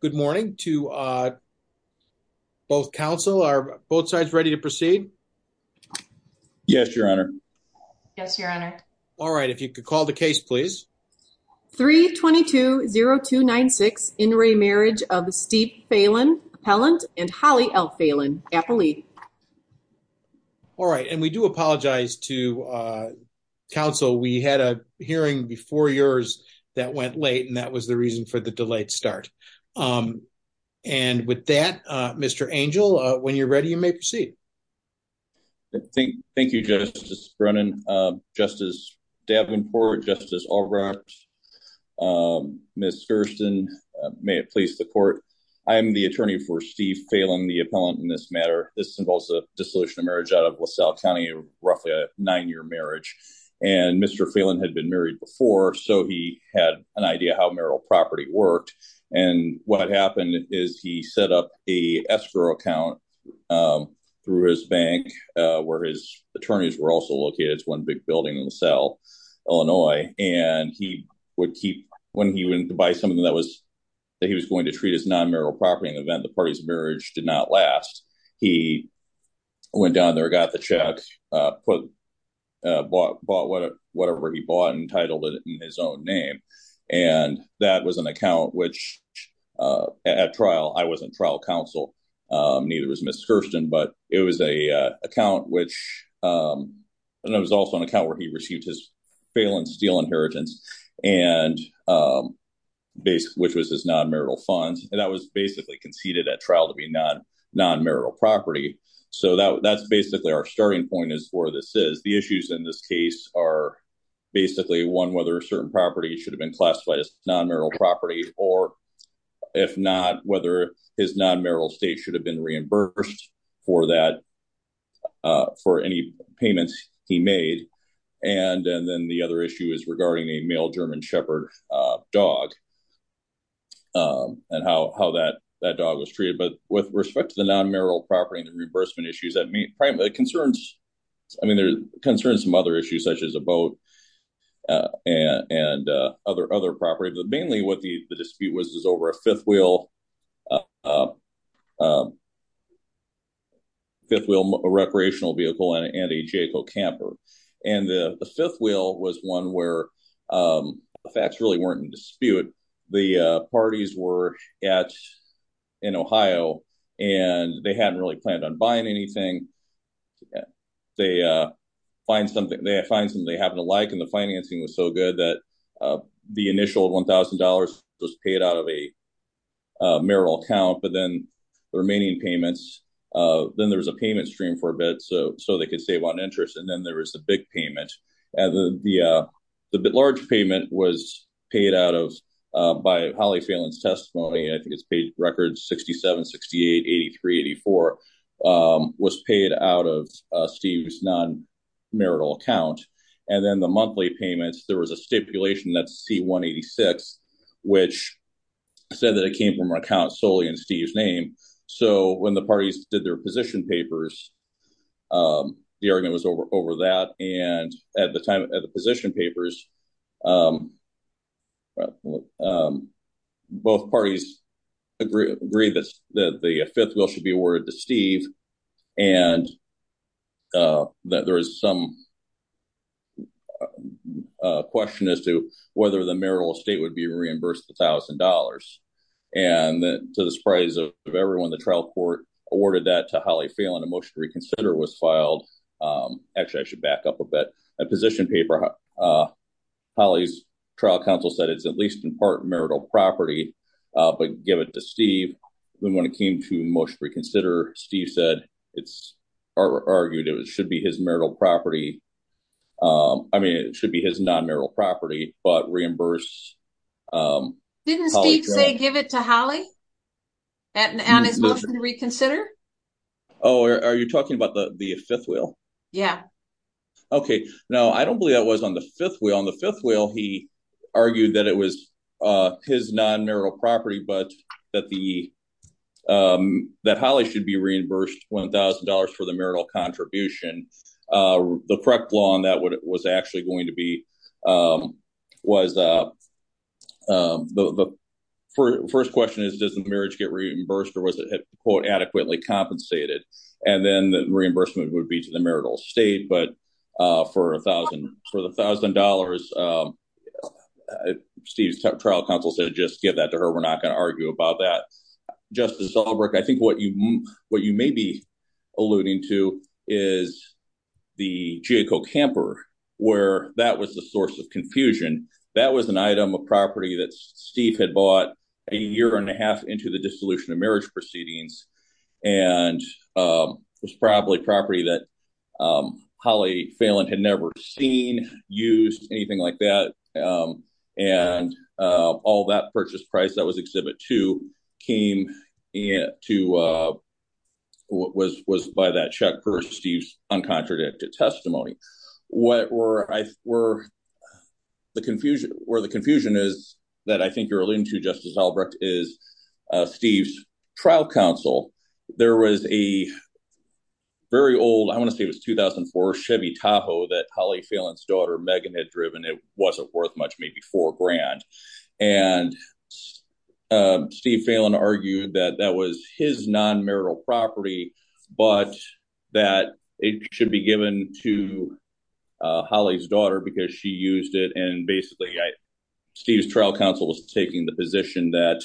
Good morning to both counsel. Are both sides ready to proceed? Yes, your honor. Yes, your honor. All right. If you could call the case, please. 32020296, in re marriage of the Steve Phalen, appellant, and Holly L. Phalen, appellee. All right, and we do apologize to counsel. We had a hearing before yours that went late, and that was the reason for the delayed start. And with that, Mr. Angel, when you're ready, you may proceed. Thank you, Justice Brennan, Justice Davenport, Justice Albright. Ms. Gersten, may it please the court. I am the attorney for Steve Phalen, the appellant in this matter. This involves a dissolution of marriage out of LaSalle County, roughly a nine year marriage. And Mr. Phalen had been married before, so he had an idea how marital property worked. And what happened is he set up a escrow account through his bank where his attorneys were also located. It's one big building in LaSalle, Illinois. And he would keep when he went to buy something that was that he was going to treat as non-marital property. In the event, the party's marriage did not last. He went down there, got the check, bought whatever he bought and titled it in his own name. And that was an account which at trial, I wasn't trial counsel. Neither was Ms. Gersten, but it was a account which was also an account where he received his Phalen steel inheritance and which was his non-marital funds. And that was basically conceded at trial to be non-marital property. So that's basically our starting point is where this is. The issues in this case are basically one, whether a certain property should have been classified as non-marital property. Or if not, whether his non-marital state should have been reimbursed for that, for any payments he made. And then the other issue is regarding a male German shepherd dog and how that dog was treated. But with respect to the non-marital property and the reimbursement issues, that concerns some other issues, such as a boat and other property. But mainly what the dispute was is over a fifth wheel, a fifth wheel recreational vehicle and a Jayco camper. And the fifth wheel was one where the facts really weren't in dispute. The parties were in Ohio and they hadn't really planned on buying anything. They find something they find something they happen to like. And the financing was so good that the initial one thousand dollars was paid out of a marital account. But then the remaining payments, then there was a payment stream for a bit. So so they could save on interest. And then there was a big payment. The large payment was paid out of by Holly Phelan's testimony. I think it's page record 67, 68, 83, 84 was paid out of Steve's non-marital account. And then the monthly payments, there was a stipulation that C-186, which said that it came from an account solely in Steve's name. So when the parties did their position papers, the argument was over over that. And at the time of the position papers, both parties agree that the fifth wheel should be awarded to Steve. And that there is some question as to whether the marital estate would be reimbursed a thousand dollars. And to the surprise of everyone, the trial court awarded that to Holly Phelan. A motion to reconsider was filed. Actually, I should back up a bit. A position paper, Holly's trial counsel said it's at least in part marital property, but give it to Steve. Then when it came to motion to reconsider, Steve said it's argued it should be his marital property. I mean, it should be his non-marital property, but reimburse. Didn't Steve say give it to Holly on his motion to reconsider? Oh, are you talking about the fifth wheel? Yeah. Okay. No, I don't believe that was on the fifth wheel. On the fifth wheel, he argued that it was his non-marital property, but that Holly should be reimbursed $1,000 for the marital contribution. The correct law on that was actually going to be was the first question is, does the marriage get reimbursed or was it adequately compensated? And then the reimbursement would be to the marital estate. But for a thousand for the thousand dollars, Steve's trial counsel said, just give that to her. We're not going to argue about that. Justice Albrecht, I think what you may be alluding to is the Geico camper, where that was the source of confusion. That was an item of property that Steve had bought a year and a half into the dissolution of marriage proceedings. And it was probably property that Holly Phelan had never seen, used, anything like that. And all that purchase price that was Exhibit 2 was by that check for Steve's uncontradicted testimony. Where the confusion is that I think you're alluding to, Justice Albrecht, is Steve's trial counsel. There was a very old, I want to say it was 2004 Chevy Tahoe that Holly Phelan's daughter Megan had driven. It wasn't worth much, maybe four grand. And Steve Phelan argued that that was his non-marital property, but that it should be given to Holly's daughter because she used it. And basically, Steve's trial counsel was taking the position that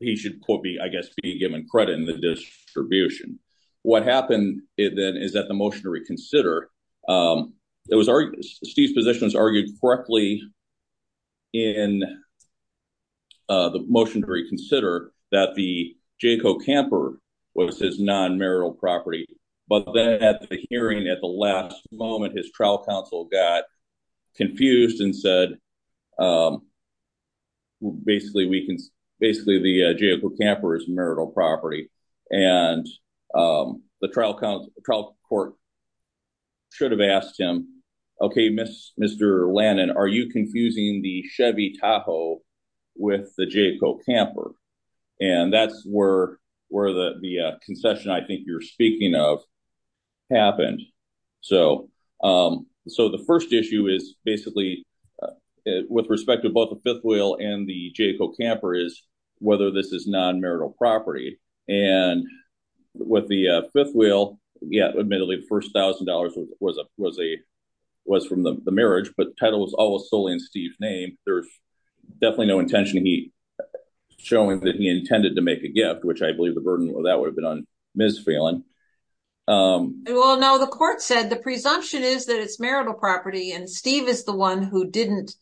he should, I guess, be given credit in the distribution. What happened then is that the motion to reconsider, Steve's position was argued correctly in the motion to reconsider that the Geico camper was his non-marital property. But then at the hearing, at the last moment, his trial counsel got confused and said, basically, the Geico camper is marital property. And the trial court should have asked him, okay, Mr. Lannon, are you confusing the Chevy Tahoe with the Geico camper? And that's where the concession I think you're speaking of happened. So the first issue is basically, with respect to both the fifth wheel and the Geico camper, is whether this is non-marital property. And with the fifth wheel, yeah, admittedly, the first $1,000 was from the marriage, but the title was always solely in Steve's name. There's definitely no intention of showing that he intended to make a gift, which I believe the burden of that would have been on Ms. Phelan. Well, no, the court said the presumption is that it's marital property, and Steve is the one who didn't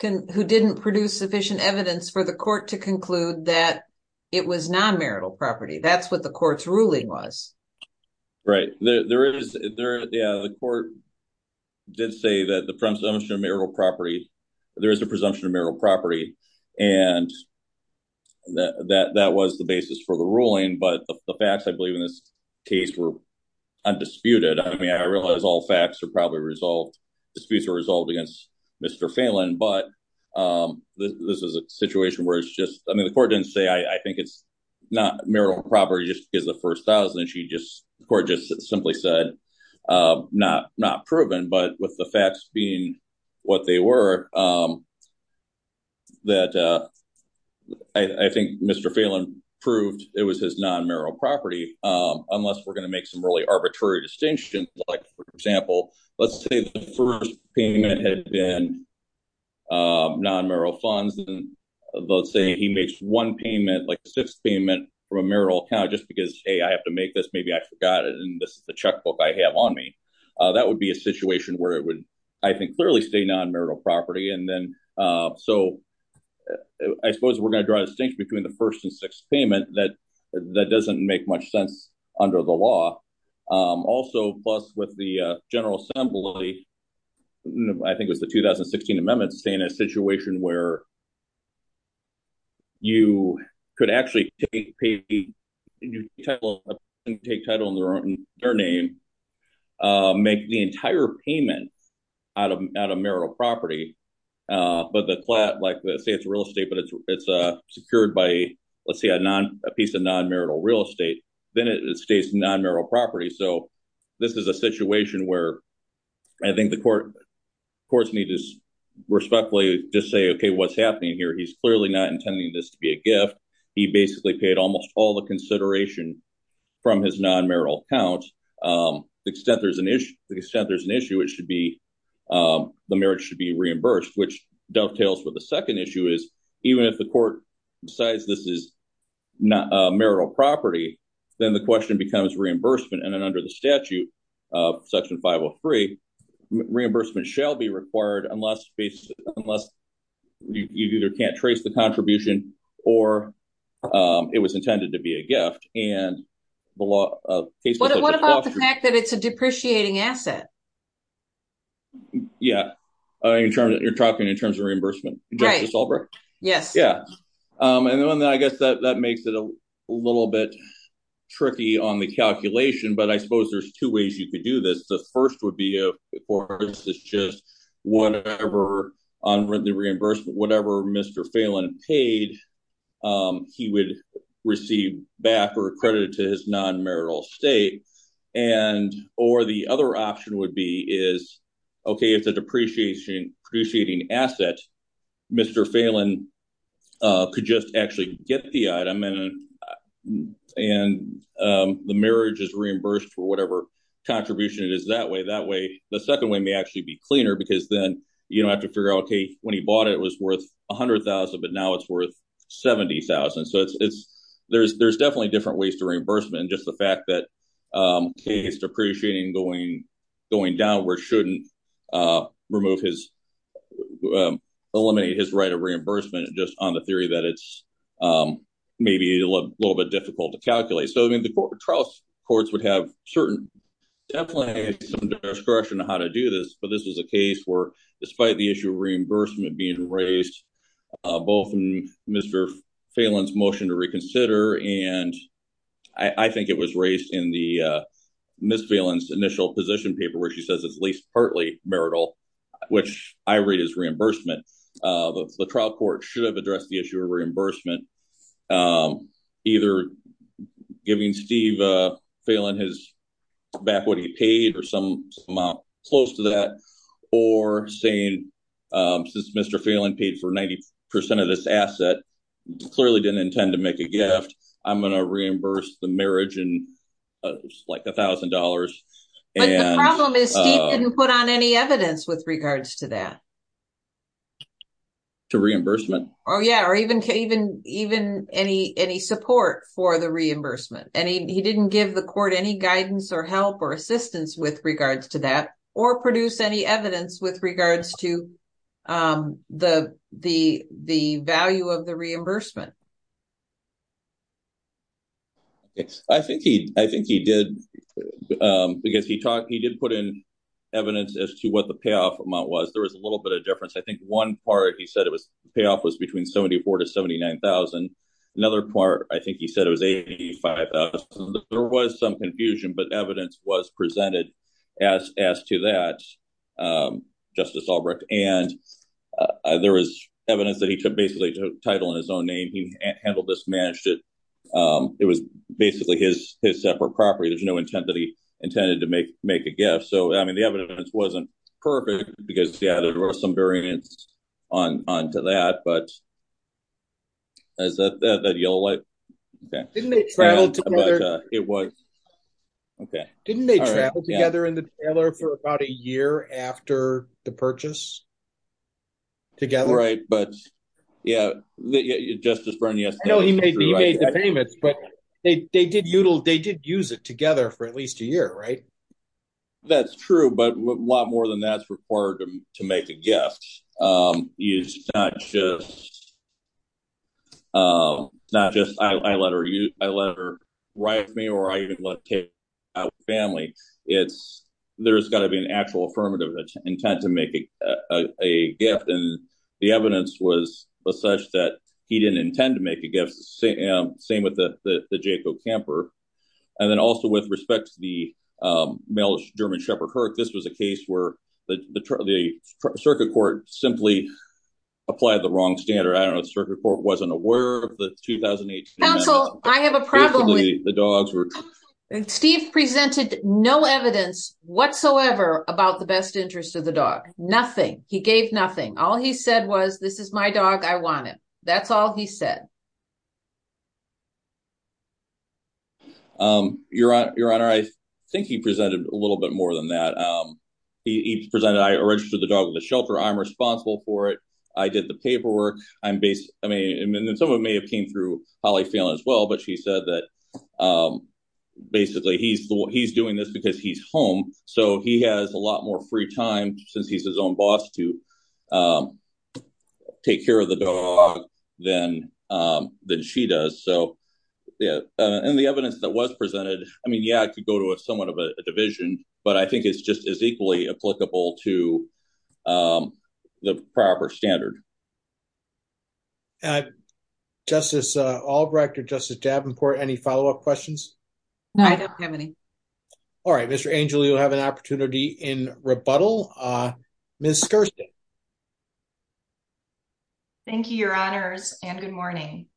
produce sufficient evidence for the court to conclude that it was non-marital property. That's what the court's ruling was. Right. Yeah, the court did say that there is a presumption of marital property, and that was the basis for the ruling. But the facts, I believe, in this case were undisputed. I mean, I realize all facts are probably resolved, disputes are resolved against Mr. Phelan. But this is a situation where it's just – I mean, the court didn't say, I think it's not marital property just because of the first $1,000. The court just simply said, not proven, but with the facts being what they were, that I think Mr. Phelan proved it was his non-marital property, unless we're going to make some really arbitrary distinctions. Like, for example, let's say the first payment had been non-marital funds, and let's say he makes one payment, like a sixth payment from a marital account just because, hey, I have to make this, maybe I forgot it, and this is the checkbook I have on me. That would be a situation where it would, I think, clearly state non-marital property. And then – so I suppose we're going to draw a distinction between the first and sixth payment. That doesn't make much sense under the law. Also, plus with the General Assembly, I think it was the 2016 amendments, saying a situation where you could actually take title in their name, make the entire payment out of marital property, but the – like, say it's real estate, but it's secured by, let's say, a piece of non-marital real estate. Then it states non-marital property. So this is a situation where I think the courts need to respectfully just say, okay, what's happening here? He's clearly not intending this to be a gift. He basically paid almost all the consideration from his non-marital account. The extent there's an issue, it should be – the marriage should be reimbursed, which dovetails with the second issue is even if the court decides this is not marital property, then the question becomes reimbursement. And then under the statute, Section 503, reimbursement shall be required unless you either can't trace the contribution or it was intended to be a gift. What about the fact that it's a depreciating asset? Yeah, you're talking in terms of reimbursement? Right. Yes. Yeah. And then I guess that makes it a little bit tricky on the calculation, but I suppose there's two ways you could do this. The first would be, of course, is just whatever – on the reimbursement, whatever Mr. Phelan paid, he would receive back or credit to his non-marital estate. Or the other option would be is, okay, it's a depreciating asset. Mr. Phelan could just actually get the item and the marriage is reimbursed for whatever contribution it is that way. That way, the second way may actually be cleaner because then you don't have to figure out, okay, when he bought it, it was worth $100,000, but now it's worth $70,000. So there's definitely different ways to reimbursement. Just the fact that case depreciating going downwards shouldn't eliminate his right of reimbursement just on the theory that it's maybe a little bit difficult to calculate. So, I mean, the trial courts would have certain – definitely some discretion on how to do this, but this was a case where despite the issue of reimbursement being raised, both in Mr. Phelan's motion to reconsider and I think it was raised in Ms. Phelan's initial position paper where she says it's at least partly marital, which I read as reimbursement. The trial court should have addressed the issue of reimbursement, either giving Steve Phelan back what he paid or some amount close to that, or saying since Mr. Phelan paid for 90% of this asset, clearly didn't intend to make a gift, I'm going to reimburse the marriage in like $1,000. But the problem is Steve didn't put on any evidence with regards to that. To reimbursement? Oh, yeah, or even any support for the reimbursement. And he didn't give the court any guidance or help or assistance with regards to that or produce any evidence with regards to the value of the reimbursement. I think he did, because he did put in evidence as to what the payoff amount was. There was a little bit of difference. I think one part he said the payoff was between $74,000 to $79,000. Another part I think he said it was $85,000. There was some confusion, but evidence was presented as to that, Justice Albrecht. And there was evidence that he took basically a title in his own name. He handled this, managed it. It was basically his separate property. There's no intent that he intended to make a gift. So, I mean, the evidence wasn't perfect, because, yeah, there was some variance onto that. But is that yellow light? Okay. Didn't they travel together? It was. Okay. Didn't they travel together in the trailer for about a year after the purchase together? Right, but, yeah, Justice Brennan, yes. I know he made the payments, but they did use it together for at least a year, right? That's true, but a lot more than that's required to make a gift. It's not just I let her ride with me or I even let her take me out with the family. There's got to be an actual affirmative intent to make a gift. And the evidence was such that he didn't intend to make a gift. Same with the Jayco camper. And then also, with respect to the male German shepherd herd, this was a case where the circuit court simply applied the wrong standard. I don't know if the circuit court wasn't aware of the 2018. Counsel, I have a problem. Steve presented no evidence whatsoever about the best interest of the dog. Nothing. He gave nothing. All he said was, this is my dog. I want it. That's all he said. Your Honor, I think he presented a little bit more than that. He presented I registered the dog with a shelter. I'm responsible for it. I did the paperwork. I'm based. I mean, and then someone may have came through Holly Phelan as well. But she said that basically he's he's doing this because he's home. So he has a lot more free time since he's his own boss to take care of the dog than than she does. So, yeah. And the evidence that was presented. I mean, yeah, I could go to a somewhat of a division, but I think it's just as equally applicable to the proper standard. Justice Albrecht or Justice Davenport, any follow up questions? No, I don't have any. All right. Mr. Angel, you'll have an opportunity in rebuttal. Ms. Skirston. Thank you, Your Honors, and good morning.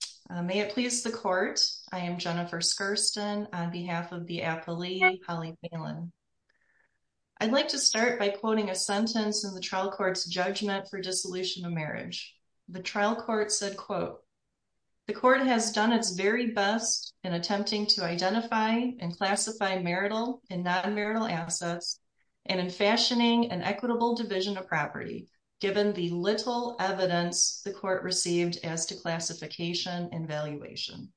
May it please the court. I am Jennifer Skirston on behalf of the appellee, Holly Phelan. I'd like to start by quoting a sentence in the trial courts judgment for dissolution of marriage. The trial court said, quote, the court has done its very best in attempting to identify and classify marital and non marital assets. And in fashioning an equitable division of property, given the little evidence the court received as to classification and valuation.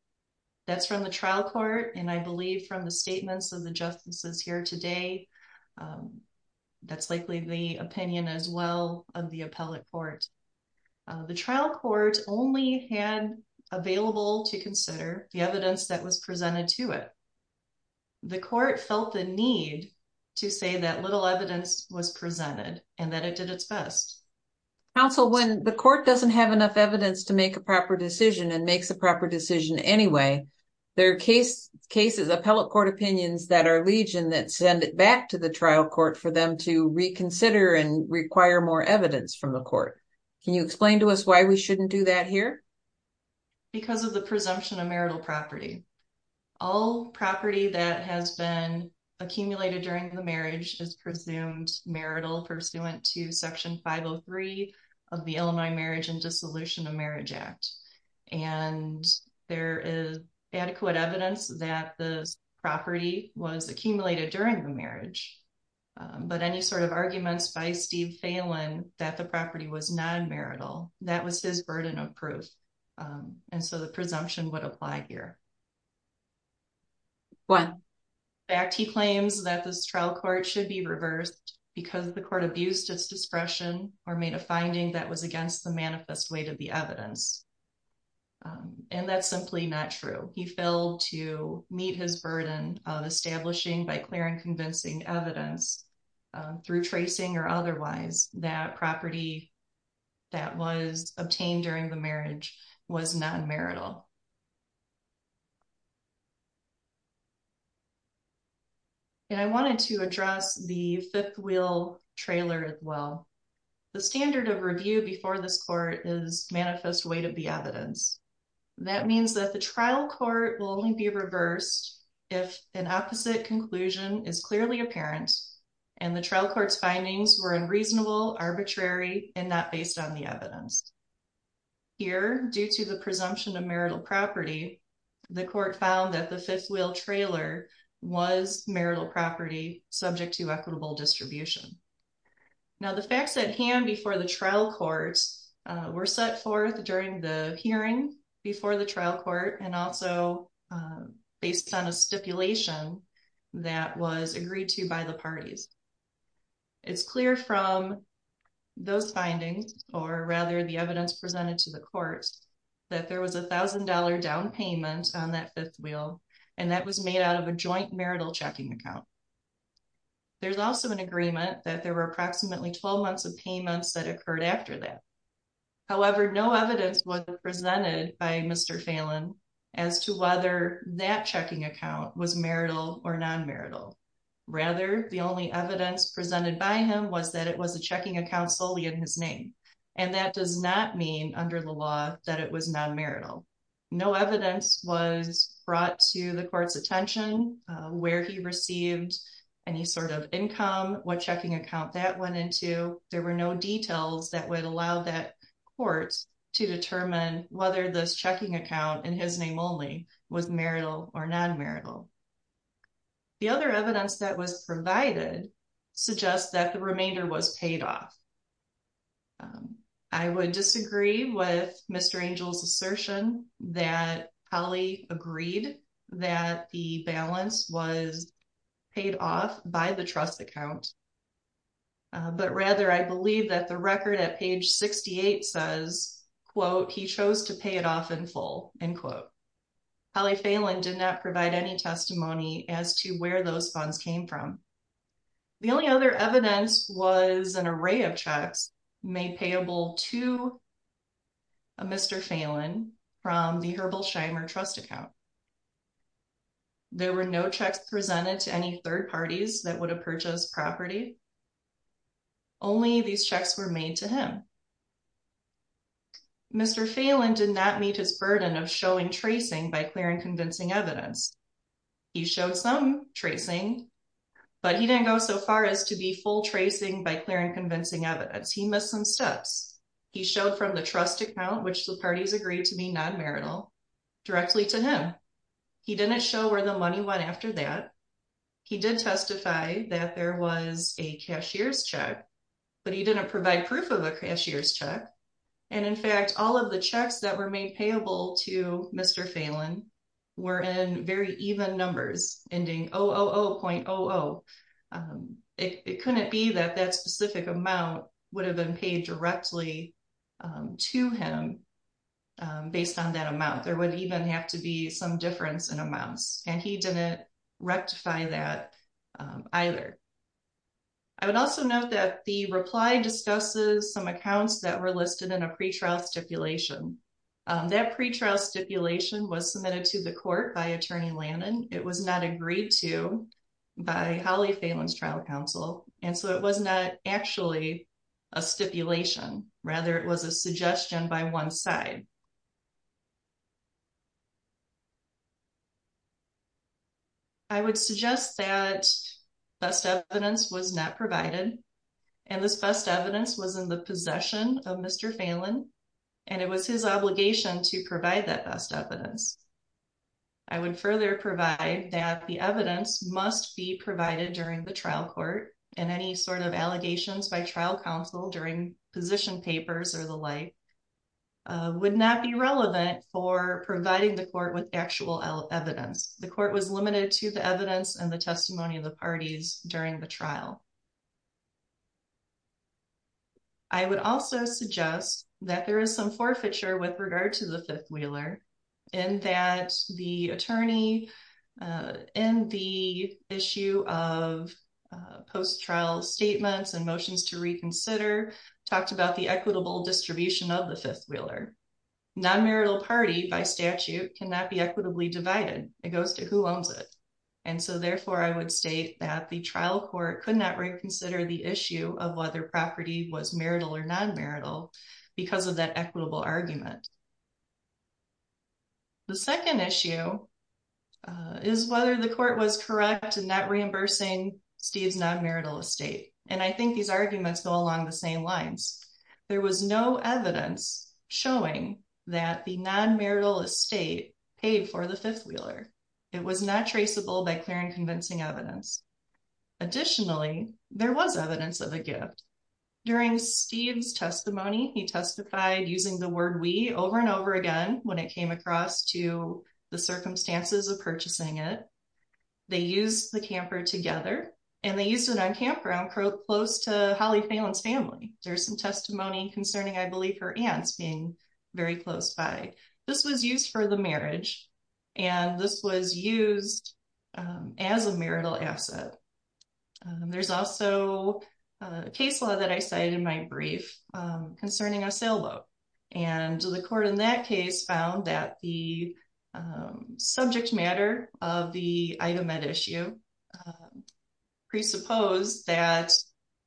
That's from the trial court. And I believe from the statements of the justices here today, that's likely the opinion as well of the appellate court. The trial court only had available to consider the evidence that was presented to it. The court felt the need to say that little evidence was presented and that it did its best. Counsel, when the court doesn't have enough evidence to make a proper decision and makes a proper decision anyway, there are cases, appellate court opinions that are legion that send it back to the trial court for them to reconsider and require more evidence from the court. Can you explain to us why we shouldn't do that here? Because of the presumption of marital property. All property that has been accumulated during the marriage is presumed marital pursuant to Section 503 of the Illinois Marriage and Dissolution of Marriage Act. And there is adequate evidence that the property was accumulated during the marriage. But any sort of arguments by Steve Phelan that the property was non marital, that was his burden of proof. And so the presumption would apply here. He claims that this trial court should be reversed because the court abused its discretion or made a finding that was against the manifest way to the evidence. And that's simply not true. He failed to meet his burden of establishing by clear and convincing evidence through tracing or otherwise that property that was obtained during the marriage was non marital. And I wanted to address the fifth wheel trailer as well. The standard of review before this court is manifest way to the evidence. That means that the trial court will only be reversed if an opposite conclusion is clearly apparent and the trial court's findings were unreasonable, arbitrary, and not based on the evidence. Here, due to the presumption of marital property, the court found that the fifth wheel trailer was marital property subject to equitable distribution. Now, the facts at hand before the trial courts were set forth during the hearing before the trial court and also based on a stipulation that was agreed to by the parties. It's clear from those findings, or rather the evidence presented to the courts, that there was a thousand dollar down payment on that fifth wheel, and that was made out of a joint marital checking account. There's also an agreement that there were approximately 12 months of payments that occurred after that. However, no evidence was presented by Mr. Phelan as to whether that checking account was marital or non marital. Rather, the only evidence presented by him was that it was a checking account solely in his name, and that does not mean under the law that it was non marital. No evidence was brought to the court's attention where he received any sort of income, what checking account that went into. There were no details that would allow that court to determine whether this checking account in his name only was marital or non marital. The other evidence that was provided suggests that the remainder was paid off. I would disagree with Mr. Angel's assertion that Holly agreed that the balance was paid off by the trust account. But rather, I believe that the record at page 68 says, quote, he chose to pay it off in full, end quote. Holly Phelan did not provide any testimony as to where those funds came from. The only other evidence was an array of checks made payable to Mr. Phelan from the Herbal Scheimer Trust account. There were no checks presented to any third parties that would have purchased property. Only these checks were made to him. Mr. Phelan did not meet his burden of showing tracing by clear and convincing evidence. He showed some tracing, but he didn't go so far as to be full tracing by clear and convincing evidence. He missed some steps. He showed from the trust account, which the parties agreed to be non marital, directly to him. He didn't show where the money went after that. He did testify that there was a cashier's check, but he didn't provide proof of a cashier's check. And in fact, all of the checks that were made payable to Mr. Phelan were in very even numbers, ending 000.00. It couldn't be that that specific amount would have been paid directly to him based on that amount. There would even have to be some difference in amounts, and he didn't rectify that either. I would also note that the reply discusses some accounts that were listed in a pretrial stipulation. That pretrial stipulation was submitted to the court by Attorney Lannan. It was not agreed to by Holly Phelan's trial counsel, and so it was not actually a stipulation. Rather, it was a suggestion by one side. I would suggest that best evidence was not provided, and this best evidence was in the possession of Mr. Phelan. And it was his obligation to provide that best evidence. I would further provide that the evidence must be provided during the trial court, and any sort of allegations by trial counsel during position papers or the like would not be relevant for providing the court with actual evidence. The court was limited to the evidence and the testimony of the parties during the trial. I would also suggest that there is some forfeiture with regard to the Fifth Wheeler, in that the attorney in the issue of post-trial statements and motions to reconsider talked about the equitable distribution of the Fifth Wheeler. Non-marital party by statute cannot be equitably divided. It goes to who owns it. And so, therefore, I would state that the trial court could not reconsider the issue of whether property was marital or non-marital because of that equitable argument. The second issue is whether the court was correct in not reimbursing Steve's non-marital estate. And I think these arguments go along the same lines. There was no evidence showing that the non-marital estate paid for the Fifth Wheeler. It was not traceable by clear and convincing evidence. Additionally, there was evidence of a gift. During Steve's testimony, he testified using the word we over and over again when it came across to the circumstances of purchasing it. They used the camper together, and they used it on campground close to Holly Phelan's family. There's some testimony concerning, I believe, her aunts being very close by. This was used for the marriage, and this was used as a marital asset. There's also a case law that I cited in my brief concerning a sailboat. And the court in that case found that the subject matter of the item at issue presupposed that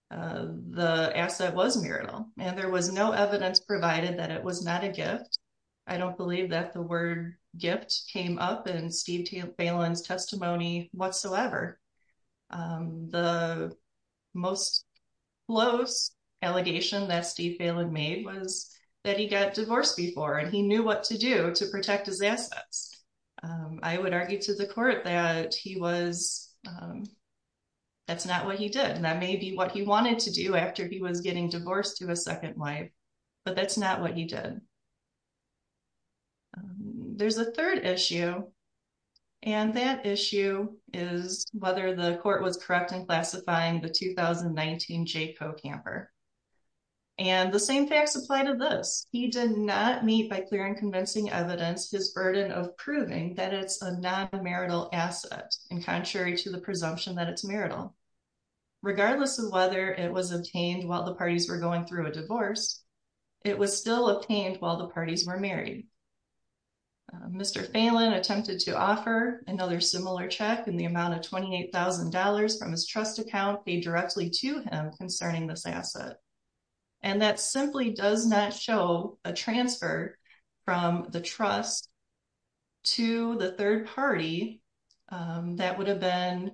the asset was marital. And there was no evidence provided that it was not a gift. I don't believe that the word gift came up in Steve Phelan's testimony whatsoever. The most close allegation that Steve Phelan made was that he got divorced before, and he knew what to do to protect his assets. I would argue to the court that he was, that's not what he did. And that may be what he wanted to do after he was getting divorced to a second wife, but that's not what he did. There's a third issue. And that issue is whether the court was correct in classifying the 2019 Jayco camper. And the same facts apply to this. He did not meet, by clear and convincing evidence, his burden of proving that it's a non-marital asset, in contrary to the presumption that it's marital. Regardless of whether it was obtained while the parties were going through a divorce, it was still obtained while the parties were married. Mr. Phelan attempted to offer another similar check in the amount of $28,000 from his trust account paid directly to him concerning this asset. And that simply does not show a transfer from the trust to the third party that would have been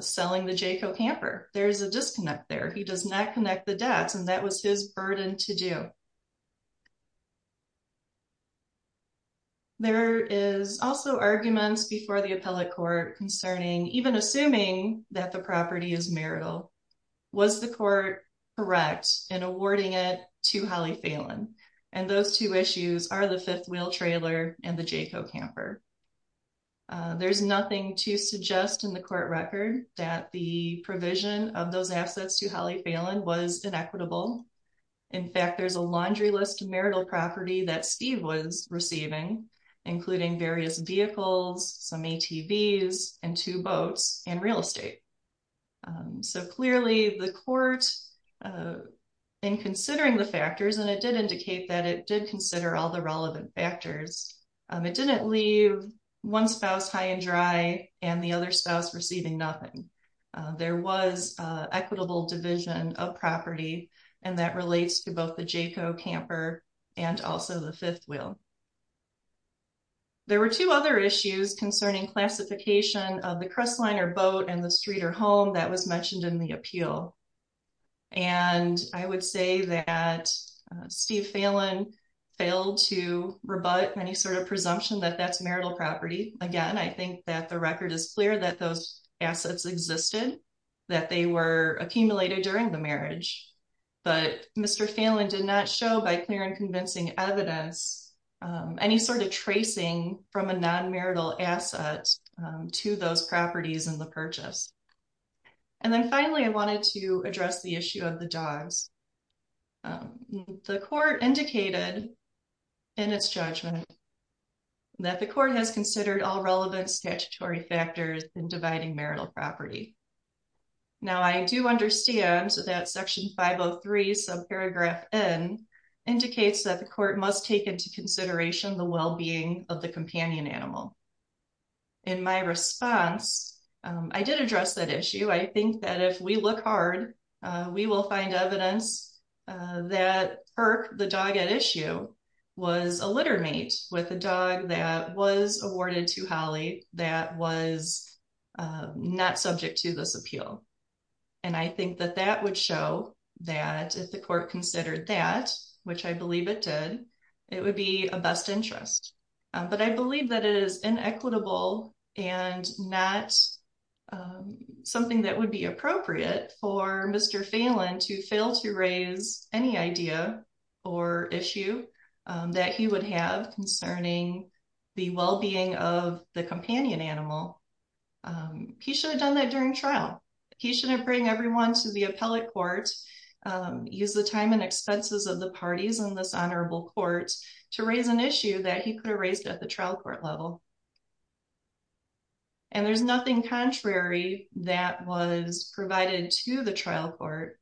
selling the Jayco camper. There is a disconnect there. He does not connect the dots, and that was his burden to do. There is also arguments before the appellate court concerning, even assuming that the property is marital, was the court correct in awarding it to Holly Phelan? And those two issues are the fifth wheel trailer and the Jayco camper. There's nothing to suggest in the court record that the provision of those assets to Holly Phelan was inequitable. In fact, there's a laundry list marital property that Steve was receiving, including various vehicles, some ATVs, and two boats, and real estate. So clearly the court, in considering the factors, and it did indicate that it did consider all the relevant factors, it didn't leave one spouse high and dry and the other spouse receiving nothing. There was equitable division of property, and that relates to both the Jayco camper and also the fifth wheel. There were two other issues concerning classification of the crestline or boat and the street or home that was mentioned in the appeal. And I would say that Steve Phelan failed to rebut any sort of presumption that that's marital property. Again, I think that the record is clear that those assets existed, that they were accumulated during the marriage. But Mr. Phelan did not show by clear and convincing evidence any sort of tracing from a non-marital asset to those properties in the purchase. And then finally, I wanted to address the issue of the dogs. The court indicated in its judgment that the court has considered all relevant statutory factors in dividing marital property. Now, I do understand that section 503 subparagraph N indicates that the court must take into consideration the well-being of the companion animal. In my response, I did address that issue. I think that if we look hard, we will find evidence that Perk, the dog at issue, was a litter mate with a dog that was awarded to Holly that was not subject to this appeal. And I think that that would show that if the court considered that, which I believe it did, it would be a best interest. But I believe that it is inequitable and not something that would be appropriate for Mr. Phelan to fail to raise any idea or issue that he would have concerning the well-being of the companion animal. He should have done that during trial. He shouldn't bring everyone to the appellate court, use the time and expenses of the parties in this honorable court to raise an issue that he could have raised at the trial court level. And there's nothing contrary that was provided to the trial court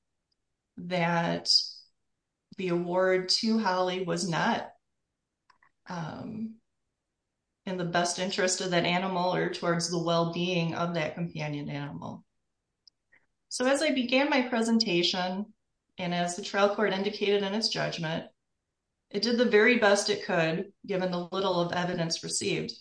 that the award to Holly was not in the best interest of that animal or towards the well-being of that companion animal. So as I began my presentation, and as the trial court indicated in its judgment, it did the very best it could, given the little of evidence received.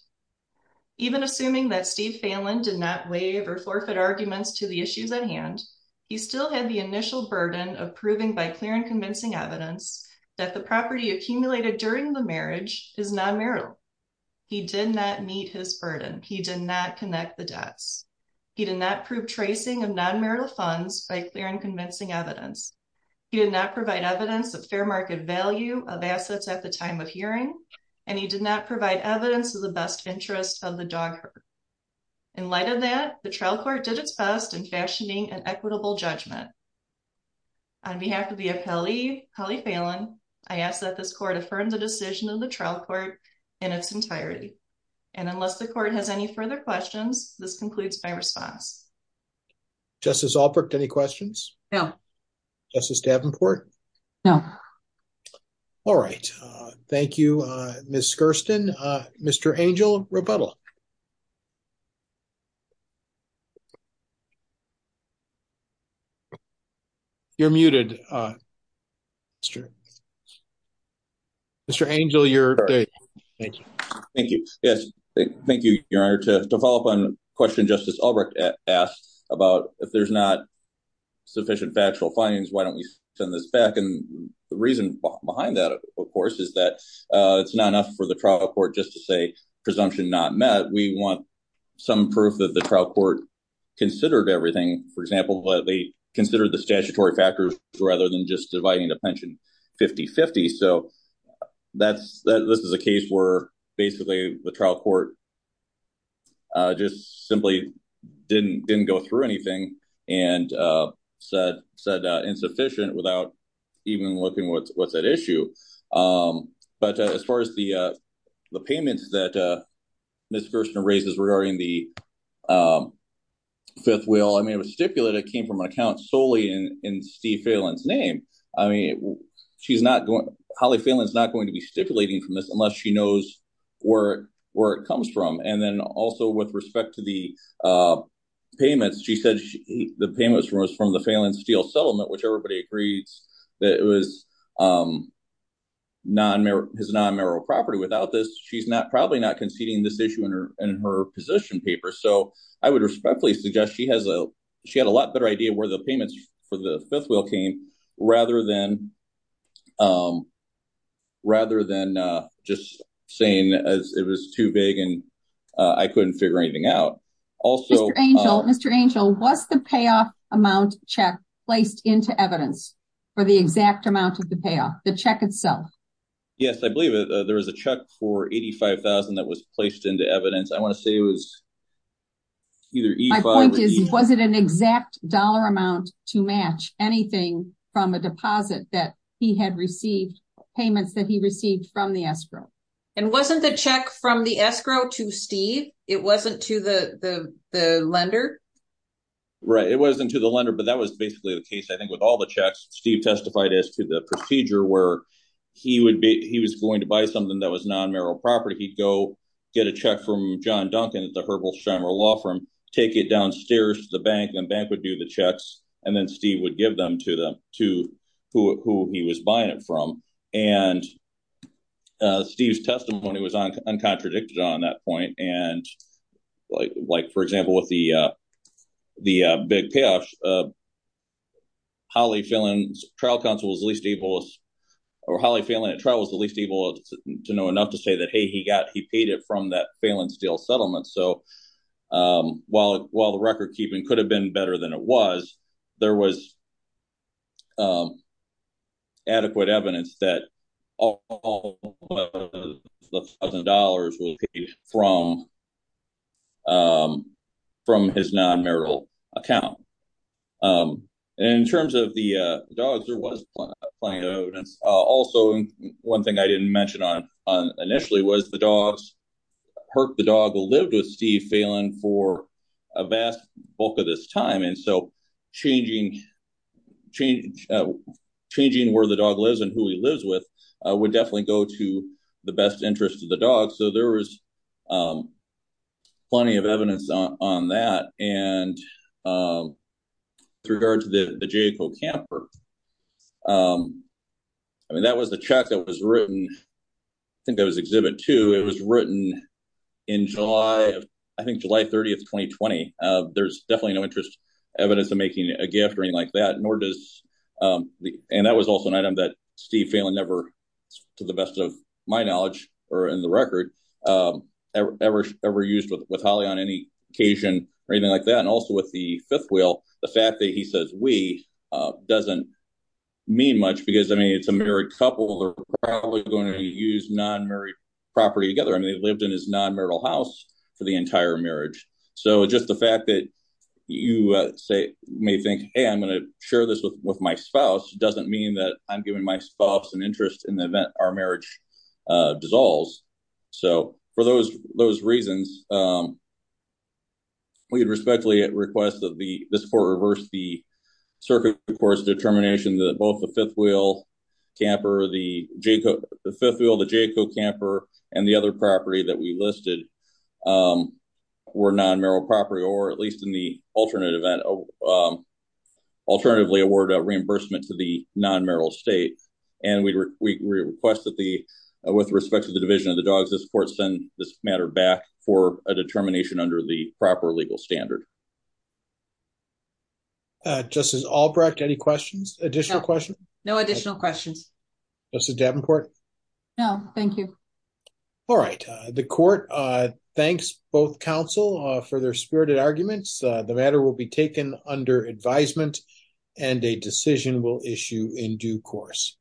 Even assuming that Steve Phelan did not waive or forfeit arguments to the issues at hand, he still had the initial burden of proving by clear and convincing evidence that the property accumulated during the marriage is non-marital. He did not meet his burden. He did not connect the dots. He did not prove tracing of non-marital funds by clear and convincing evidence. He did not provide evidence of fair market value of assets at the time of hearing, and he did not provide evidence of the best interest of the dog herd. In light of that, the trial court did its best in fashioning an equitable judgment. On behalf of the appellee, Holly Phelan, I ask that this court affirm the decision of the trial court in its entirety. And unless the court has any further questions, this concludes my response. Justice Albrecht, any questions? No. Justice Davenport? No. All right. Thank you, Ms. Skirsten. Mr. Angel, rebuttal. You're muted, Mr. Angel. Thank you. Yes. Thank you, Your Honor. To follow up on a question Justice Albrecht asked about if there's not sufficient factual findings, why don't we send this back? And the reason behind that, of course, is that it's not enough for the trial court just to say presumption not met. We want some proof that the trial court considered everything, for example, that they considered the statutory factors rather than just dividing the pension 50-50. So this is a case where basically the trial court just simply didn't go through anything and said insufficient without even looking what's at issue. But as far as the payments that Ms. Skirsten raises regarding the fifth will, I mean, it was stipulated, came from an account solely in Steve Phelan's name. I mean, she's not going – Holly Phelan's not going to be stipulating from this unless she knows where it comes from. And then also with respect to the payments, she said the payments were from the Phelan Steel Settlement, which everybody agrees that it was his non-merit property. Without this, she's probably not conceding this issue in her position paper. So I would respectfully suggest she had a lot better idea where the payments for the fifth will came rather than just saying it was too big and I couldn't figure anything out. Also – Mr. Angel, Mr. Angel, was the payoff amount check placed into evidence for the exact amount of the payoff, the check itself? Yes, I believe there was a check for $85,000 that was placed into evidence. I want to say it was either E5 or E – My point is, was it an exact dollar amount to match anything from a deposit that he had received, payments that he received from the escrow? And wasn't the check from the escrow to Steve? It wasn't to the lender? Right, it wasn't to the lender, but that was basically the case, I think, with all the checks. Steve testified as to the procedure where he was going to buy something that was non-merit property. He'd go get a check from John Duncan at the Herbal Shimer Law Firm, take it downstairs to the bank, and the bank would do the checks, and then Steve would give them to who he was buying it from. And Steve's testimony was uncontradicted on that point. And like, for example, with the big payoffs, Holly Phelan at trial was the least able to know enough to say that, hey, he paid it from that Phelan Steel settlement. So, while the record-keeping could have been better than it was, there was adequate evidence that all of the $1,000 was paid from his non-merit account. And in terms of the dogs, there was plenty of evidence. Also, one thing I didn't mention initially was the dogs. Herc, the dog, lived with Steve Phelan for a vast bulk of his time, and so changing where the dog lives and who he lives with would definitely go to the best interest of the dog. So, there was plenty of evidence on that. And with regard to the Jayco Camper, I mean, that was the check that was written – I think that was Exhibit 2. It was written in July – I think July 30th, 2020. There's definitely no evidence of making a gift or anything like that, nor does – and that was also an item that Steve Phelan never, to the best of my knowledge or in the record, ever used with Holly on any occasion or anything like that. And also with the fifth wheel, the fact that he says, we, doesn't mean much because, I mean, it's a married couple. They're probably going to use non-merit property together. I mean, they lived in his non-merital house for the entire marriage. So, just the fact that you may think, hey, I'm going to share this with my spouse doesn't mean that I'm giving my spouse an interest in the event our marriage dissolves. So, for those reasons, we respectfully request that this court reverse the circuit court's determination that both the fifth wheel camper, the Jayco Camper, and the other property that we listed were non-merit property or, at least in the alternate event, alternatively award a reimbursement to the non-merit state. And we request that the – with respect to the division of the dogs, this court send this matter back for a determination under the proper legal standard. Justice Albrecht, any questions? Additional questions? No additional questions. Justice Davenport? No, thank you. All right. The court thanks both counsel for their spirited arguments. The matter will be taken under advisement, and a decision will issue in due course.